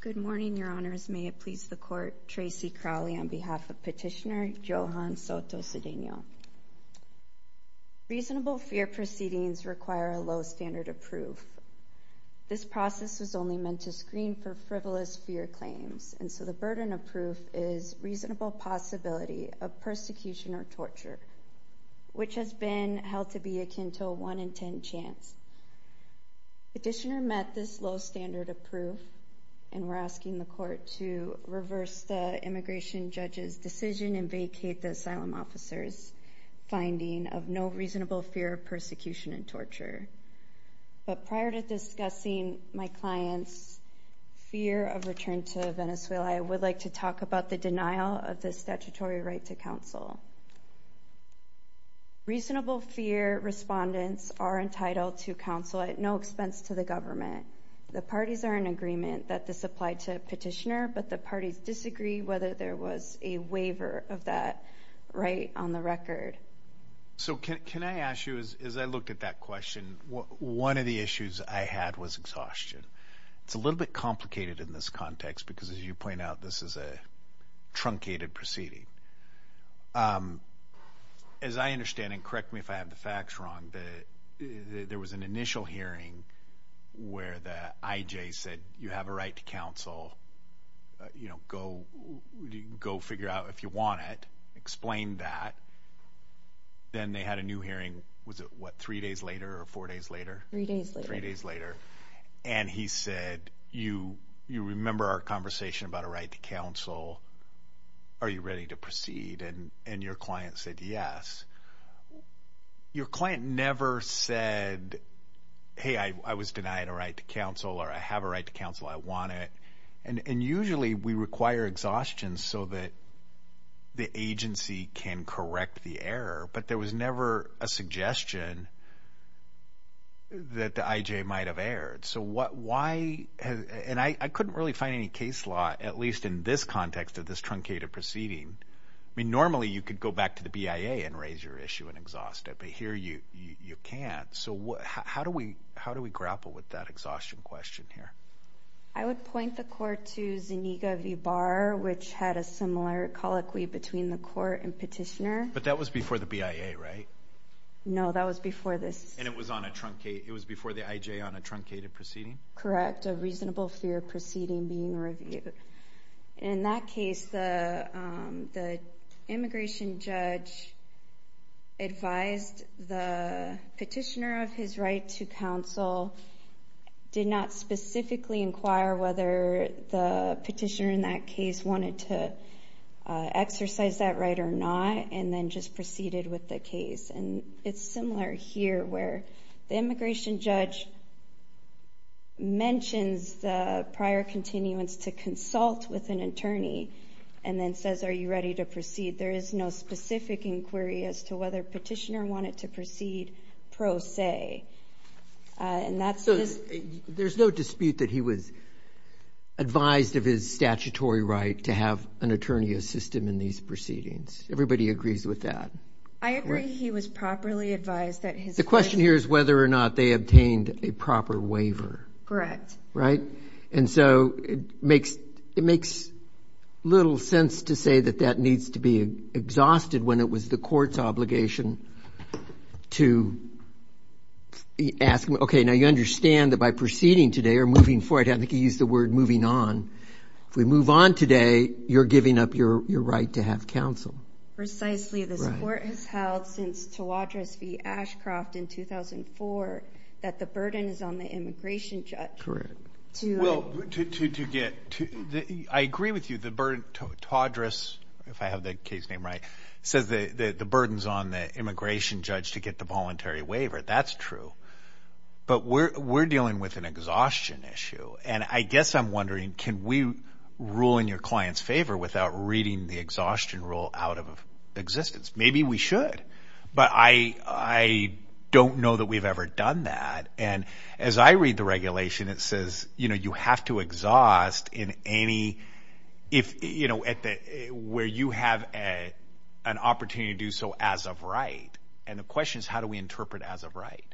Good morning, Your Honors. May it please the Court, Tracy Crowley on behalf of Petitioner Johan Soto Cedeno. Reasonable fear proceedings require a low standard of proof. This process was only meant to screen for frivolous fear claims, and so the burden of proof is reasonable possibility of persecution or torture, which has been held to be akin to a 1 in 10 chance. Petitioner met this low standard of proof, and we're asking the Court to reverse the immigration judge's decision and vacate the asylum officer's finding of no reasonable fear of persecution and torture. But prior to discussing my client's fear of return to Venezuela, I would like to talk about the denial of the statutory right to counsel. Reasonable fear respondents are entitled to counsel at no expense to the government. The waiver of that right on the record. Petitioner So can I ask you, as I looked at that question, one of the issues I had was exhaustion. It's a little bit complicated in this context because as you point out, this is a truncated proceeding. As I understand it, correct me if I have the facts wrong, but there was an initial hearing where the IJ said you have a right to counsel, you know, go figure out if you want it, explain that. Then they had a new hearing, was it what, three days later or four days later? Three days later. Three days later. And he said, you remember our conversation about a right to counsel. Are you ready to proceed? And your client said yes. Your client never said, hey, I was denied a right to counsel or I have a right to counsel, I want it. And usually we require exhaustion so that the agency can correct the error, but there was never a suggestion that the IJ might have erred. So what, why, and I couldn't really find any case law, at least in this context of this truncated proceeding. I mean, normally you could go back to the BIA and raise your issue and exhaust it, but here you can't. So what, how do we, how do we grapple with that exhaustion question here? I would point the court to Zuniga v. Barr, which had a similar colloquy between the court and petitioner. But that was before the BIA, right? No, that was before this. And it was on a truncated, it was before the IJ on a truncated proceeding? Correct. A reasonable fear proceeding being reviewed. In that case, the immigration judge advised the petitioner of his right to counsel, did not specifically inquire whether the petitioner in that case wanted to exercise that right or not, and then just proceeded with the case. And it's similar here where the immigration judge mentions the prior continuance to consult with an attorney, and then says, are you ready to proceed? There is no specific inquiry as to whether petitioner wanted to proceed pro se. And that's... So there's no dispute that he was advised of his statutory right to have an attorney assist him in these proceedings. Everybody agrees with that? I agree he was properly advised that his... The question here is whether or not they obtained a proper waiver. Correct. Right? And so it makes little sense to say that that needs to be exhausted when it was the court's obligation to ask, okay, now you understand that by proceeding today or moving forward, I think he used the word moving on. If we move on today, you're giving up your right to have counsel. Precisely. This court has held since Tawadros v. Ashcroft in 2004 that the burden is on the immigration judge. Well, to get... I agree with you, the burden... Tawadros, if I have the case name right, says that the burden's on the immigration judge to get the voluntary waiver. That's true. But we're dealing with an exhaustion issue. And I guess I'm wondering, can we rule in your client's favor without reading the exhaustion rule out of existence? Maybe we should, but I don't know that we've ever done that. And as I read the regulation, it says, you have to exhaust in any... Where you have an opportunity to do so as of right. And the question is, how do we interpret as of right?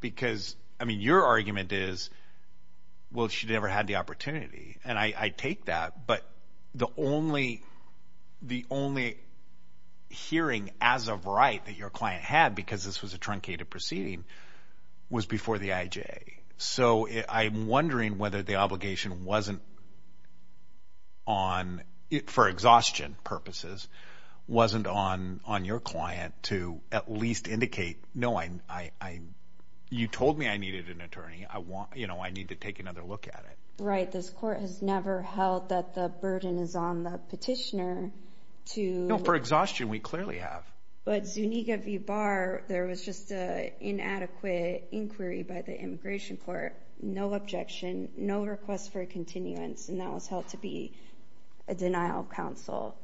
Because, I mean, your argument is, well, she never had the opportunity. And I take that, but the only hearing as of right that your client had, because this was a truncated proceeding, was before the IJA. So I'm wondering whether the obligation wasn't on... for exhaustion purposes, wasn't on your client to at least indicate, no, you told me I needed an attorney. I need to take another look at it. Right. This court has never held that the burden is on the petitioner to... No, for exhaustion, we clearly have. But Zuniga v. Barr, there was just an inadequate inquiry by the Immigration Court. No objection, no request for a continuance, and that was held to be a denial of counsel.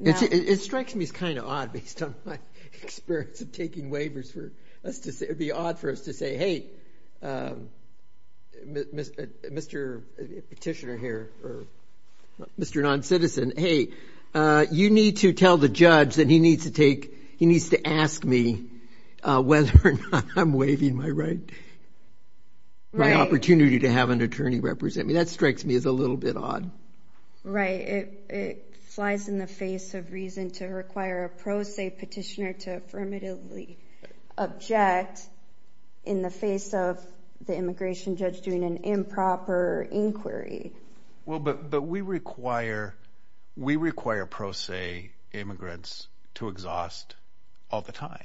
It strikes me as kind of odd based on my experience of taking waivers for us to say... It'd be odd for us to say, hey, Mr. Petitioner here, or Mr. Non-Citizen, hey, you need to tell the judge that he needs to take... he needs to ask me whether or not I'm waiving my right... my opportunity to have an attorney represent me. That strikes me as a little bit odd. Right. It flies in the face of reason to require a pro se petitioner to affirmatively object in the face of the immigration judge doing an improper inquiry. Well, but we require pro se immigrants to exhaust all the time.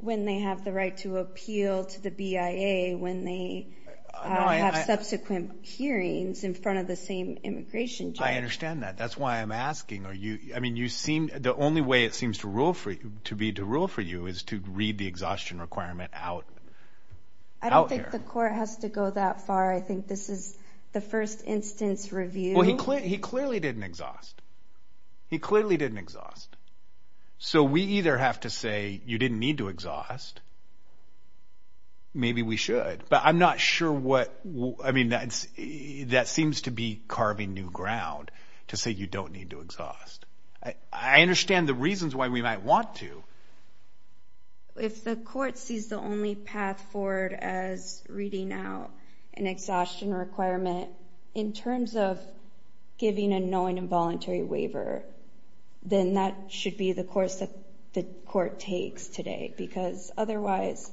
When they have the right to appeal to the BIA, when they have subsequent hearings in front of the same immigration judge. I understand that. That's why I'm asking, are you... I mean, you seem... the only way it seems to rule for you, to be to rule for you, is to read the exhaustion requirement out. I don't think the court has to go that far. I think this is the first instance review. Well, he clearly didn't exhaust. He clearly didn't exhaust. So we either have to say, you didn't need to exhaust. Maybe we should, but I'm not sure what... I mean, that seems to be carving new ground to say you don't need to exhaust. I understand the reasons why we might want to. If the court sees the only path forward as reading out an exhaustion requirement, in terms of giving a knowing involuntary waiver, then that should be the course that the court takes today. Because otherwise,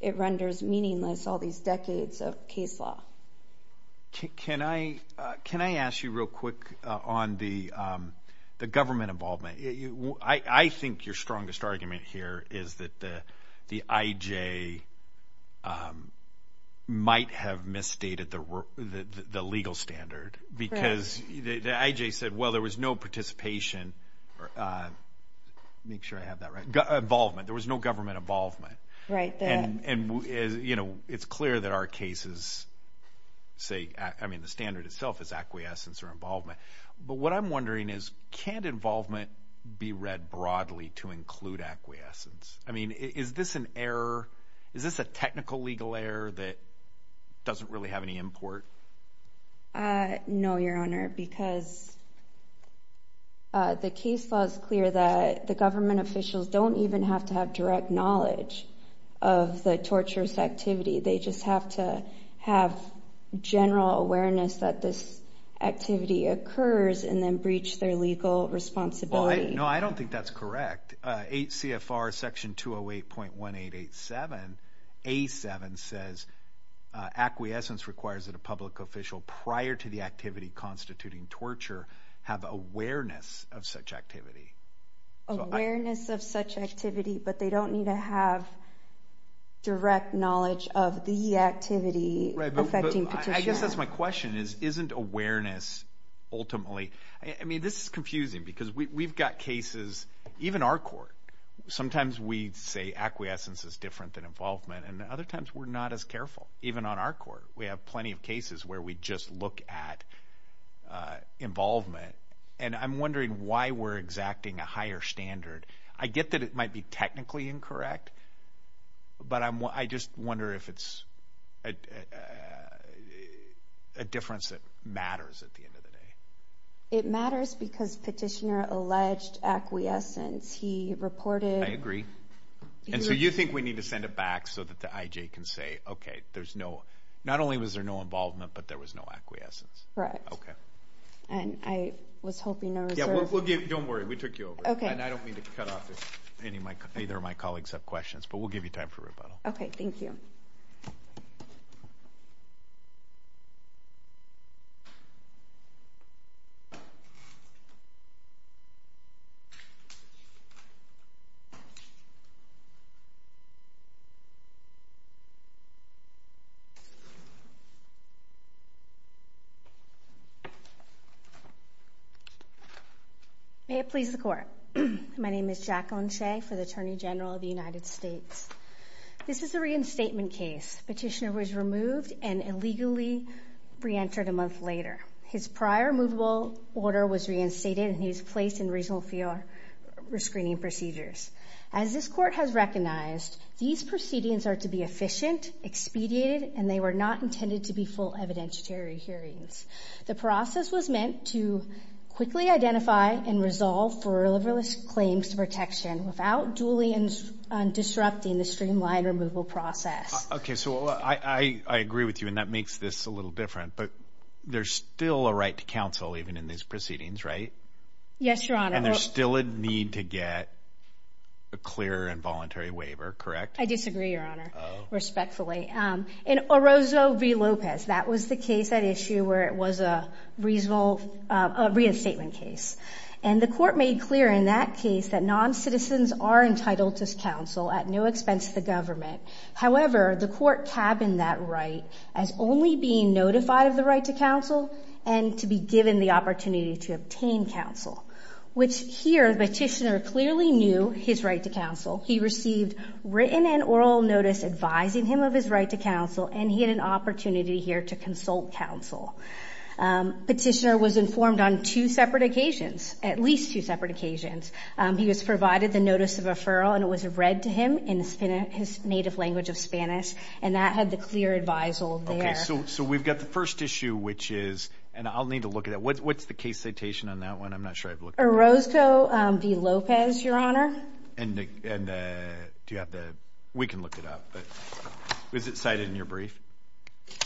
it renders meaningless all these decades of case law. Can I ask you real quick on the government involvement? I think your strongest argument here is that the IJ might have misstated the legal standard. Because the IJ said, well, there was no participation... make sure I have that right... involvement. There was no government involvement. Right. And, you know, it's clear that our cases say, I mean, the standard itself is acquiescence or involvement. But what I'm wondering is, can't involvement be read broadly to include acquiescence? I mean, is this an error? Is this a technical legal error that doesn't really have any import? No, Your Honor, because the case law is clear that the government officials don't even have to have direct knowledge of the torturous activity. They just have to have general awareness that this activity occurs and then breach their legal responsibility. No, I don't think that's correct. 8 CFR section 208.1887, A7 says acquiescence requires that a public official prior to the activity constituting torture have awareness of such activity. Awareness of such activity, but they don't need to have direct knowledge of the activity affecting petitioner. I guess that's my question is, isn't awareness ultimately... I mean, this is confusing because we've got cases, even our court, sometimes we say acquiescence is different than involvement, and other times we're not as careful, even on our court. We have plenty of cases where we just look at involvement, and I'm wondering why we're exacting a higher standard. I get that it might be technically incorrect, but I just wonder if it's a difference that matters at the end of the day. It matters because petitioner alleged acquiescence. He reported... I agree. And so you think we need to send it back so that the IJ can say, okay, there's no... Not only was there no involvement, but there was no acquiescence. Correct. Okay. And I was hoping there was... Don't worry. We took you over. Okay. And I don't mean to cut off either of my colleagues' questions, but we'll give you time for rebuttal. Okay. Thank you. May it please the court. My name is Jacqueline Shea for the Attorney General of the United States. This is a reinstatement case. Petitioner was removed and illegally reentered a month later. His prior movable order was reinstated, and he was placed in regional field for screening procedures. As this court has recognized, these proceedings are to be efficient, expedited, and they were not intended to be full evidentiary hearings. The process was meant to quickly identify and resolve for liverless claims to protection without duly disrupting the streamlined removal process. Okay. So I agree with you, and that makes this a little different. But there's still a right to counsel even in these proceedings, right? Yes, Your Honor. And there's still a need to get a clear and voluntary waiver, correct? I disagree, Your Honor, respectfully. In Orozco v. Lopez, that was the case at issue where it was a reasonable reinstatement case. And the court made clear in that case that noncitizens are entitled to counsel at no expense to the government. However, the court cabined that right as only being notified of the right to counsel and to be given the opportunity to obtain counsel, which here the petitioner clearly knew his right to counsel. He received written and oral notice advising him of his right to counsel, and he had an opportunity here to consult counsel. Petitioner was informed on two separate occasions, at least two separate occasions. He was provided the notice of referral, and it was read to him in his native language of Spanish, and that had the clear advisal there. Okay. So we've got the first issue, which is, and I'll need to look at it. What's the case citation on that one? I'm not sure I've looked at it. Orozco v. Lopez, Your Honor. And do you have the, we can look it up, but was it cited in your brief?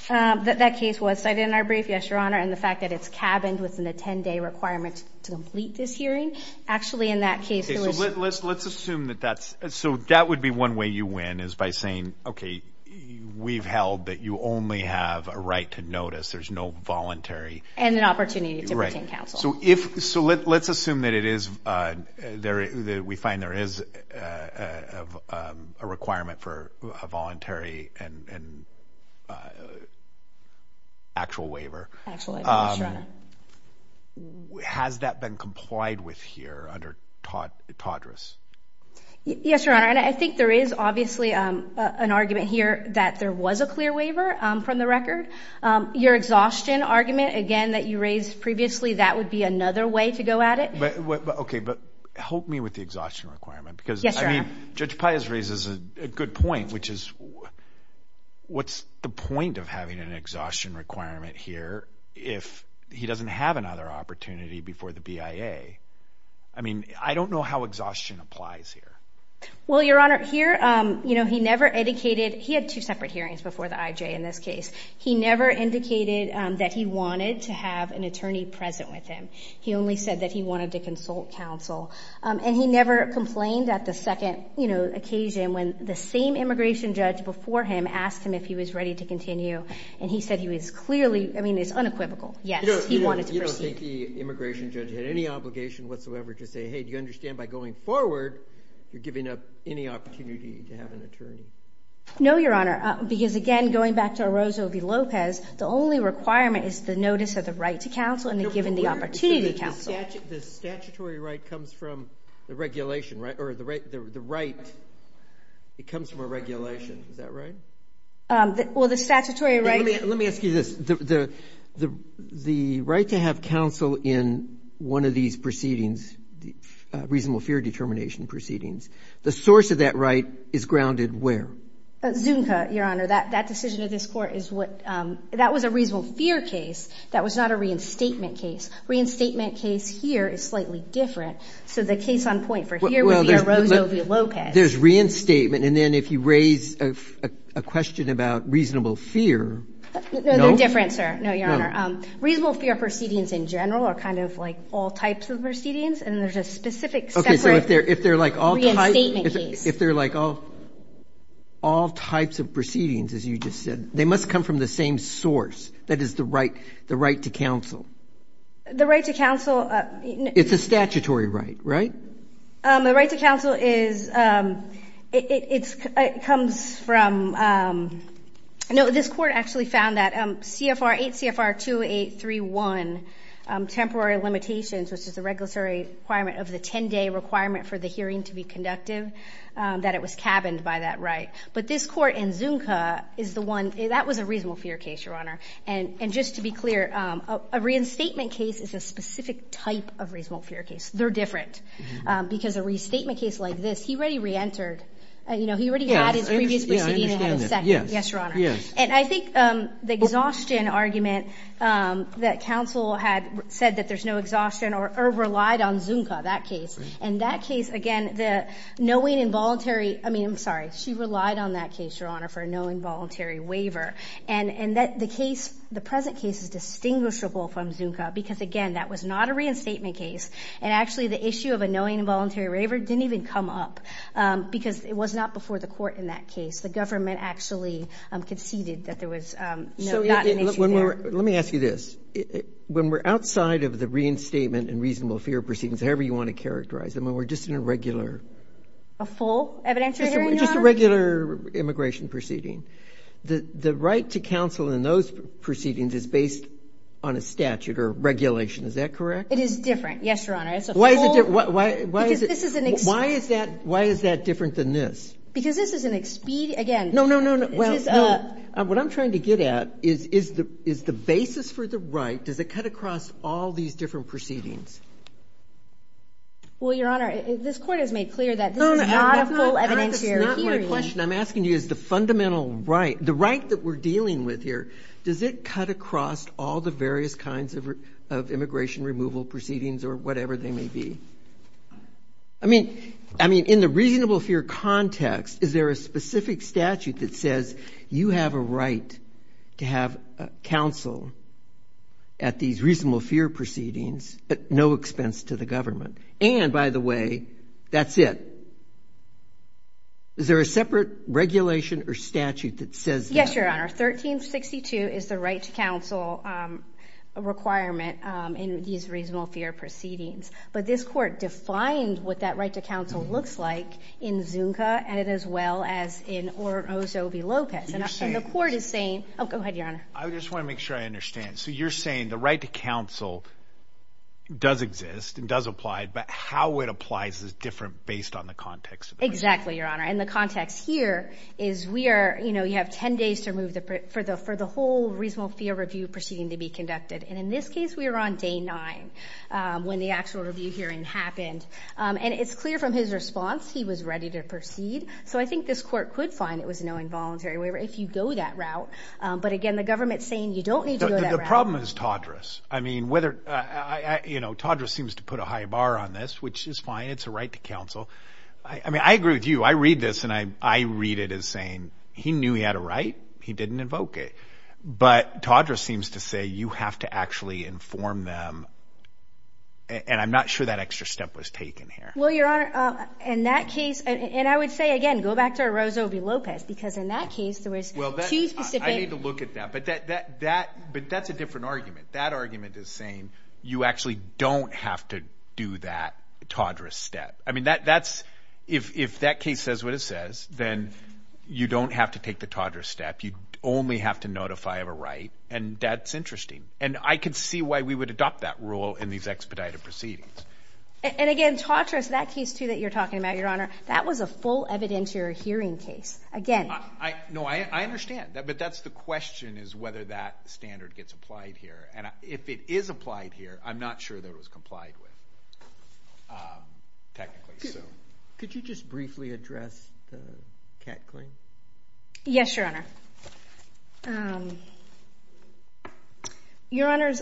That case was cited in our brief, yes, Your Honor. And the fact that it's cabined within the 10-day requirement to complete this hearing, actually in that case it was. Let's assume that that's, so that would be one way you win is by saying, okay, we've held that you only have a right to notice. There's no voluntary. And an opportunity to obtain counsel. So if, so let's assume that it is, that we find there is a requirement for a voluntary and actual waiver. Actually, yes, Your Honor. Has that been complied with here under TADRAS? Yes, Your Honor, and I think there is obviously an argument here that there was a clear waiver from the record. Your exhaustion argument, again, that you raised previously, that would be another way to go at it. Okay, but help me with the exhaustion requirement. Yes, Your Honor. Because, I mean, Judge Pius raises a good point, which is what's the point of having an exhaustion requirement here if he doesn't have another opportunity before the BIA? I mean, I don't know how exhaustion applies here. Well, Your Honor, here, you know, he never indicated, he had two separate hearings before the IJ in this case. He never indicated that he wanted to have an attorney present with him. He only said that he wanted to consult counsel. And he never complained at the second, you know, occasion when the same immigration judge before him asked him if he was ready to continue. And he said he was clearly, I mean, it's unequivocal, yes, he wanted to proceed. You don't think the immigration judge had any obligation whatsoever to say, hey, do you understand by going forward, you're giving up any opportunity to have an attorney? No, Your Honor. Because, again, going back to Orozco v. Lopez, the only requirement is the notice of the right to counsel and the given the opportunity to counsel. The statutory right comes from the regulation, right, or the right, it comes from a regulation. Is that right? Well, the statutory right. Let me ask you this. The right to have counsel in one of these proceedings, reasonable fear determination proceedings, the source of that right is grounded where? Zunka, Your Honor. That decision of this Court is what, that was a reasonable fear case. That was not a reinstatement case. Reinstatement case here is slightly different. So the case on point for here would be Orozco v. Lopez. There's reinstatement, and then if you raise a question about reasonable fear, no? No, they're different, sir. No, Your Honor. Reasonable fear proceedings in general are kind of like all types of proceedings, and there's a specific separate reinstatement case. If they're like all types of proceedings, as you just said, they must come from the same source. That is the right to counsel. The right to counsel. It's a statutory right, right? The right to counsel is, it comes from, no, this Court actually found that CFR 8, CFR 2831, temporary limitations, which is the regulatory requirement of the 10-day requirement for the hearing to be conductive, that it was cabined by that right. But this Court in Zunka is the one, that was a reasonable fear case, Your Honor. And just to be clear, a reinstatement case is a specific type of reasonable fear case. They're different. Because a restatement case like this, he already reentered. You know, he already had his previous proceedings and had his second. Yes, Your Honor. And I think the exhaustion argument that counsel had said that there's no exhaustion or relied on Zunka, that case. And that case, again, the knowing involuntary, I mean, I'm sorry, she relied on that case, Your Honor, for a knowing voluntary waiver. And the case, the present case is distinguishable from Zunka because, again, that was not a reinstatement case. And actually the issue of a knowing involuntary waiver didn't even come up because it was not before the Court in that case. The government actually conceded that there was, you know, not an issue there. Let me ask you this. When we're outside of the reinstatement and reasonable fear proceedings, however you want to characterize them, when we're just in a regular. A full evidentiary hearing, Your Honor? Just a regular immigration proceeding. The right to counsel in those proceedings is based on a statute or regulation. Is that correct? It is different, yes, Your Honor. It's a full. Why is it different? Because this is an expedient. Why is that different than this? Because this is an expedient. No, no, no, no. This is a. What I'm trying to get at is the basis for the right, does it cut across all these different proceedings? Well, Your Honor, this Court has made clear that this is not a full evidentiary hearing. I'm asking you is the fundamental right, the right that we're dealing with here, does it cut across all the various kinds of immigration removal proceedings or whatever they may be? I mean, in the reasonable fear context, is there a specific statute that says you have a right to have counsel at these reasonable fear proceedings at no expense to the government? And, by the way, that's it. Is there a separate regulation or statute that says that? Yes, Your Honor. 1362 is the right to counsel requirement in these reasonable fear proceedings. But this Court defined what that right to counsel looks like in Zunka and as well as in Osovi-Lopez. And the Court is saying... Oh, go ahead, Your Honor. I just want to make sure I understand. So you're saying the right to counsel does exist and does apply, but how it applies is different based on the context. Exactly, Your Honor. And the context here is we are, you know, you have 10 days to remove the... for the whole reasonable fear review proceeding to be conducted. And in this case, we were on day nine when the actual review hearing happened. And it's clear from his response he was ready to proceed. So I think this Court could find it was an involuntary waiver if you go that route. But, again, the government is saying you don't need to go that route. The problem is Todrus. I mean, whether... You know, Todrus seems to put a high bar on this, which is fine. It's a right to counsel. I mean, I agree with you. I read this, and I read it as saying he knew he had a right. He didn't invoke it. But Todrus seems to say you have to actually inform them. And I'm not sure that extra step was taken here. Well, Your Honor, in that case... And I would say, again, go back to Orozco v. Lopez because in that case there was two specific... I need to look at that. But that's a different argument. That argument is saying you actually don't have to do that Todrus step. I mean, that's... If that case says what it says, then you don't have to take the Todrus step. You only have to notify of a right. And that's interesting. And I could see why we would adopt that rule in these expedited proceedings. And, again, Todrus, that case, too, that you're talking about, Your Honor, that was a full evidentiary hearing case. Again... No, I understand. But that's the question is whether that standard gets applied here. And if it is applied here, I'm not sure that it was complied with technically. Could you just briefly address the category? Yes, Your Honor. Your Honors,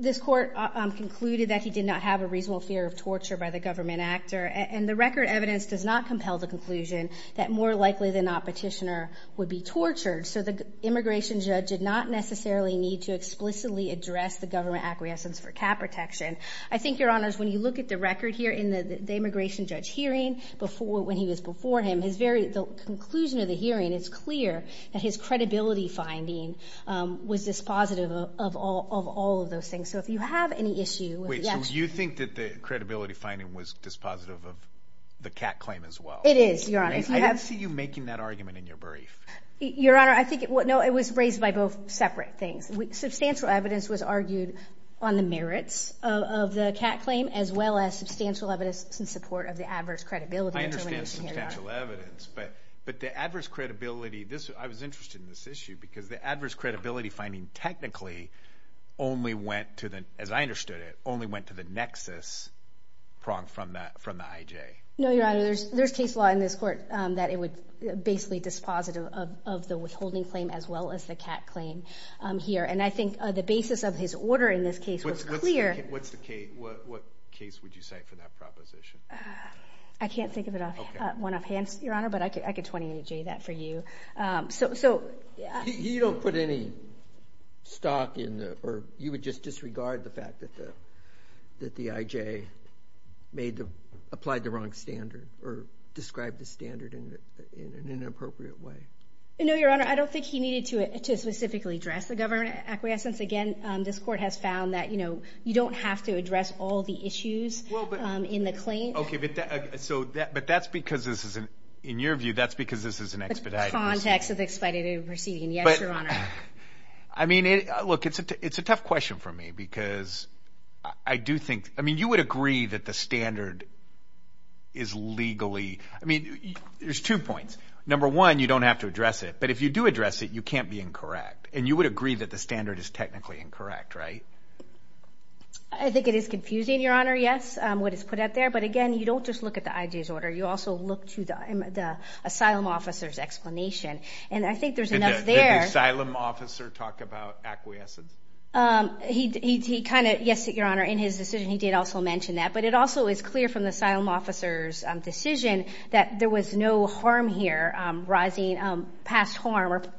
this court concluded that he did not have a reasonable fear of torture by the government actor. And the record evidence does not compel the conclusion that more likely than not Petitioner would be tortured. So the immigration judge did not necessarily need to explicitly address the government acquiescence for cap protection. I think, Your Honors, when you look at the record here in the immigration judge hearing when he was before him, the conclusion of the hearing, it's clear that his credibility finding was dispositive of all of those things. So if you have any issue... Wait, so you think that the credibility finding was dispositive of the cat claim as well? It is, Your Honor. I didn't see you making that argument in your brief. Your Honor, I think... No, it was raised by both separate things. Substantial evidence was argued on the merits of the cat claim as well as substantial evidence in support of the adverse credibility... Substantial evidence, but the adverse credibility... I was interested in this issue because the adverse credibility finding technically only went to the, as I understood it, only went to the nexus prong from the IJ. No, Your Honor, there's case law in this court that it was basically dispositive of the withholding claim as well as the cat claim here. And I think the basis of his order in this case was clear... What case would you cite for that proposition? I can't think of it off one of hands, Your Honor, but I could 28J that for you. So... You don't put any stock in the... or you would just disregard the fact that the IJ made the... applied the wrong standard or described the standard in an inappropriate way? No, Your Honor, I don't think he needed to specifically address the government acquiescence. Again, this court has found that you don't have to address all the issues in the claim. Okay, but that's because this is, in your view, that's because this is an expedited proceeding. The context of the expedited proceeding, yes, Your Honor. I mean, look, it's a tough question for me because I do think... I mean, you would agree that the standard is legally... I mean, there's two points. Number one, you don't have to address it, but if you do address it, you can't be incorrect. And you would agree that the standard is technically incorrect, right? I think it is confusing, Your Honor, yes, what is put out there. But again, you don't just look at the IJ's order. You also look to the asylum officer's explanation. And I think there's enough there... Did the asylum officer talk about acquiescence? He kind of, yes, Your Honor, in his decision he did also mention that. But it also is clear from the asylum officer's decision that there was no harm here...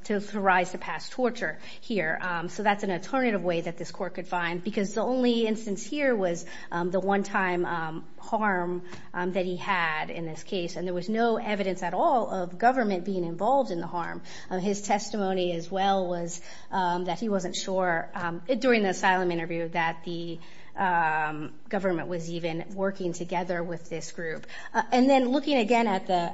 to authorize the past torture here. So that's an alternative way that this Court could find. Because the only instance here was the one-time harm that he had in this case. And there was no evidence at all of government being involved in the harm. His testimony as well was that he wasn't sure, during the asylum interview, that the government was even working together with this group. And then looking again at the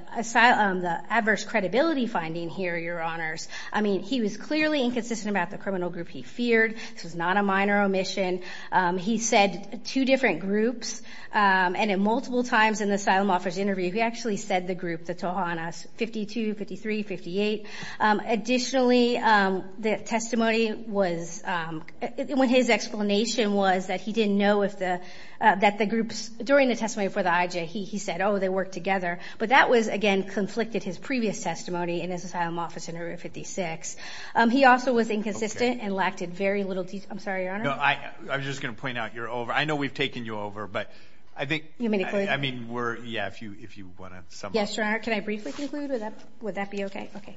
adverse credibility finding here, Your Honors, I mean, he was clearly inconsistent about the criminal group he feared. This was not a minor omission. He said two different groups. And in multiple times in the asylum officer's interview, he actually said the group, the Tohanas, 52, 53, 58. Additionally, the testimony was, when his explanation was that he didn't know if the, that the groups, during the testimony for the IJ, he said, oh, they work together. But that was, again, conflicted his previous testimony in his asylum office interview, 56. He also was inconsistent and lacked very little detail. I'm sorry, Your Honor. No, I was just going to point out you're over. I know we've taken you over. But I think... You may conclude. I mean, we're, yeah, if you want to sum up. Yes, Your Honor. Can I briefly conclude? Would that be okay? Okay.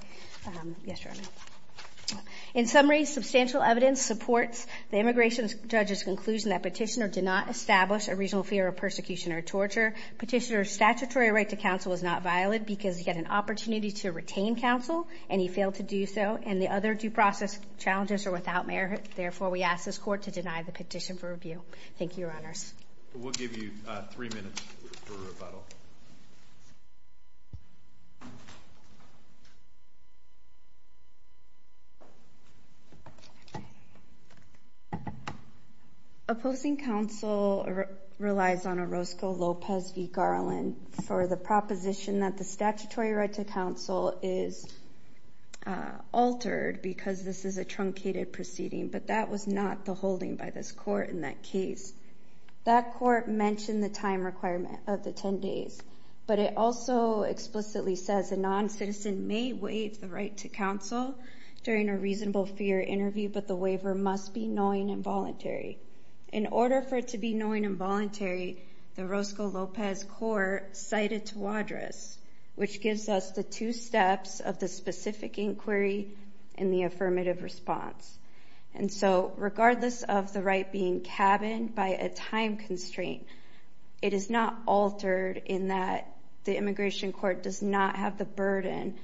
Yes, Your Honor. In summary, substantial evidence supports the immigration judge's conclusion that Petitioner did not establish a regional fear of persecution or torture. Petitioner's statutory right to counsel was not violated because he had an opportunity to retain counsel, and he failed to do so. And the other due process challenges are without merit. Therefore, we ask this Court to deny the petition for review. Thank you, Your Honors. We'll give you three minutes for rebuttal. Opposing counsel relies on Orozco Lopez v. Garland for the proposition that the statutory right to counsel is altered because this is a truncated proceeding, but that was not the holding by this Court in that case. That Court mentioned the time requirement of the 10 days, but it also explicitly says a noncitizen may waive the right to counsel during a reasonable fear interview, but the waiver must be knowing and voluntary. In order for it to be knowing and voluntary, the Orozco Lopez court cited Tawadros, which gives us the two steps of the specific inquiry and the affirmative response. And so regardless of the right being cabined by a time constraint, it is not altered in that the immigration court does not have the burden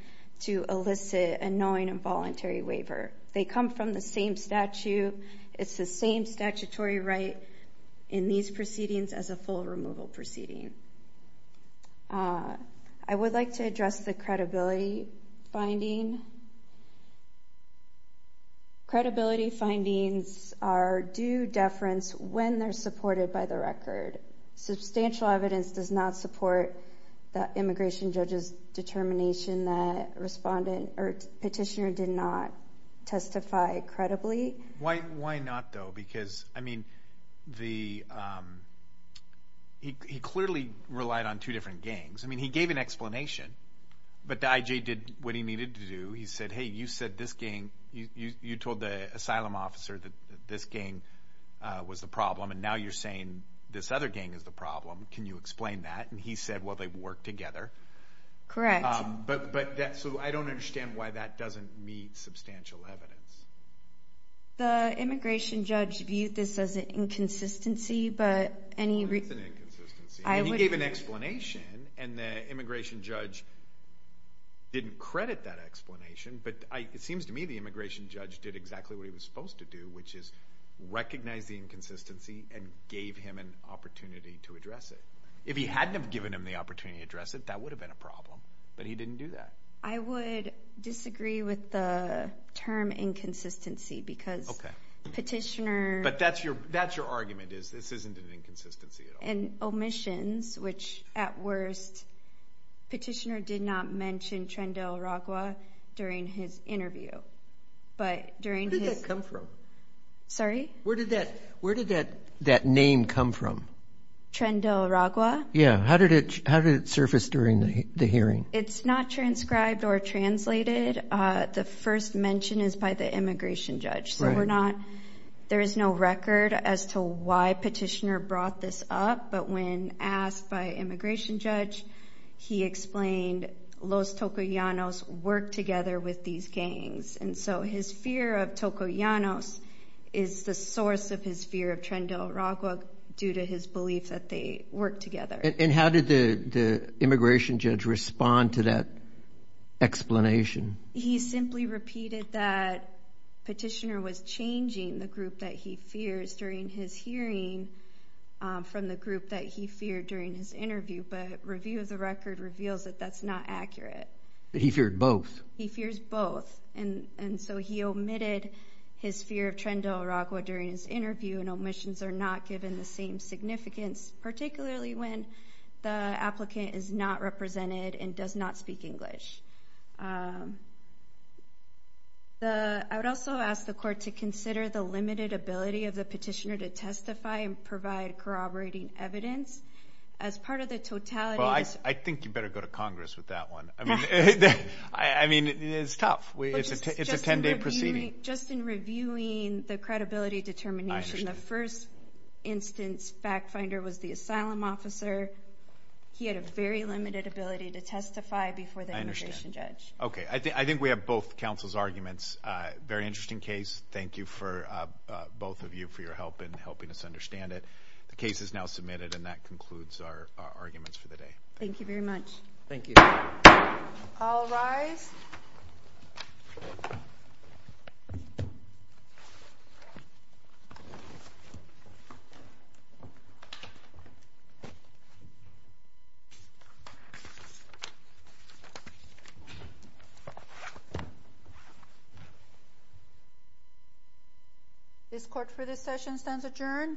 to elicit a knowing and voluntary waiver. They come from the same statute. It's the same statutory right in these proceedings as a full removal proceeding. I would like to address the credibility finding. Credibility findings are due deference when they're supported by the record. Substantial evidence does not support the immigration judge's determination that petitioner did not testify credibly. Why not, though? Because, I mean, he clearly relied on two different gangs. I mean, he gave an explanation, but the IJ did what he needed to do. He said, hey, you said this gang, you told the asylum officer that this gang was the problem, and now you're saying this other gang is the problem. Can you explain that? And he said, well, they work together. Correct. So I don't understand why that doesn't meet substantial evidence. The immigration judge viewed this as an inconsistency, but any – That's an inconsistency. He gave an explanation, and the immigration judge didn't credit that explanation, but it seems to me the immigration judge did exactly what he was supposed to do, which is recognize the inconsistency and gave him an opportunity to address it. If he hadn't have given him the opportunity to address it, that would have been a problem. But he didn't do that. I would disagree with the term inconsistency because petitioner – But that's your argument is this isn't an inconsistency at all. And omissions, which at worst, petitioner did not mention Trendel Ragwa during his interview. But during his – Where did that come from? Sorry? Where did that name come from? Trendel Ragwa? Yeah. How did it surface during the hearing? It's not transcribed or translated. The first mention is by the immigration judge. So we're not – There is no record as to why petitioner brought this up. But when asked by immigration judge, he explained Los Tokoyanos work together with these gangs. And so his fear of Tokoyanos is the source of his fear of Trendel Ragwa due to his belief that they work together. And how did the immigration judge respond to that explanation? He simply repeated that petitioner was changing the group that he fears during his hearing from the group that he feared during his interview. But review of the record reveals that that's not accurate. He feared both? He fears both. And so he omitted his fear of Trendel Ragwa during his interview. And omissions are not given the same significance, particularly when the applicant is not represented and does not speak English. I would also ask the court to consider the limited ability of the petitioner to testify and provide corroborating evidence. As part of the totality – Well, I think you better go to Congress with that one. I mean, it's tough. It's a 10-day proceeding. Just in reviewing the credibility determination, the first instance fact finder was the asylum officer. He had a very limited ability to testify before the immigration judge. Okay, I think we have both counsel's arguments. Very interesting case. Thank you for both of you for your help in helping us understand it. The case is now submitted, and that concludes our arguments for the day. Thank you very much. Thank you. I'll rise. This court for this session stands adjourned.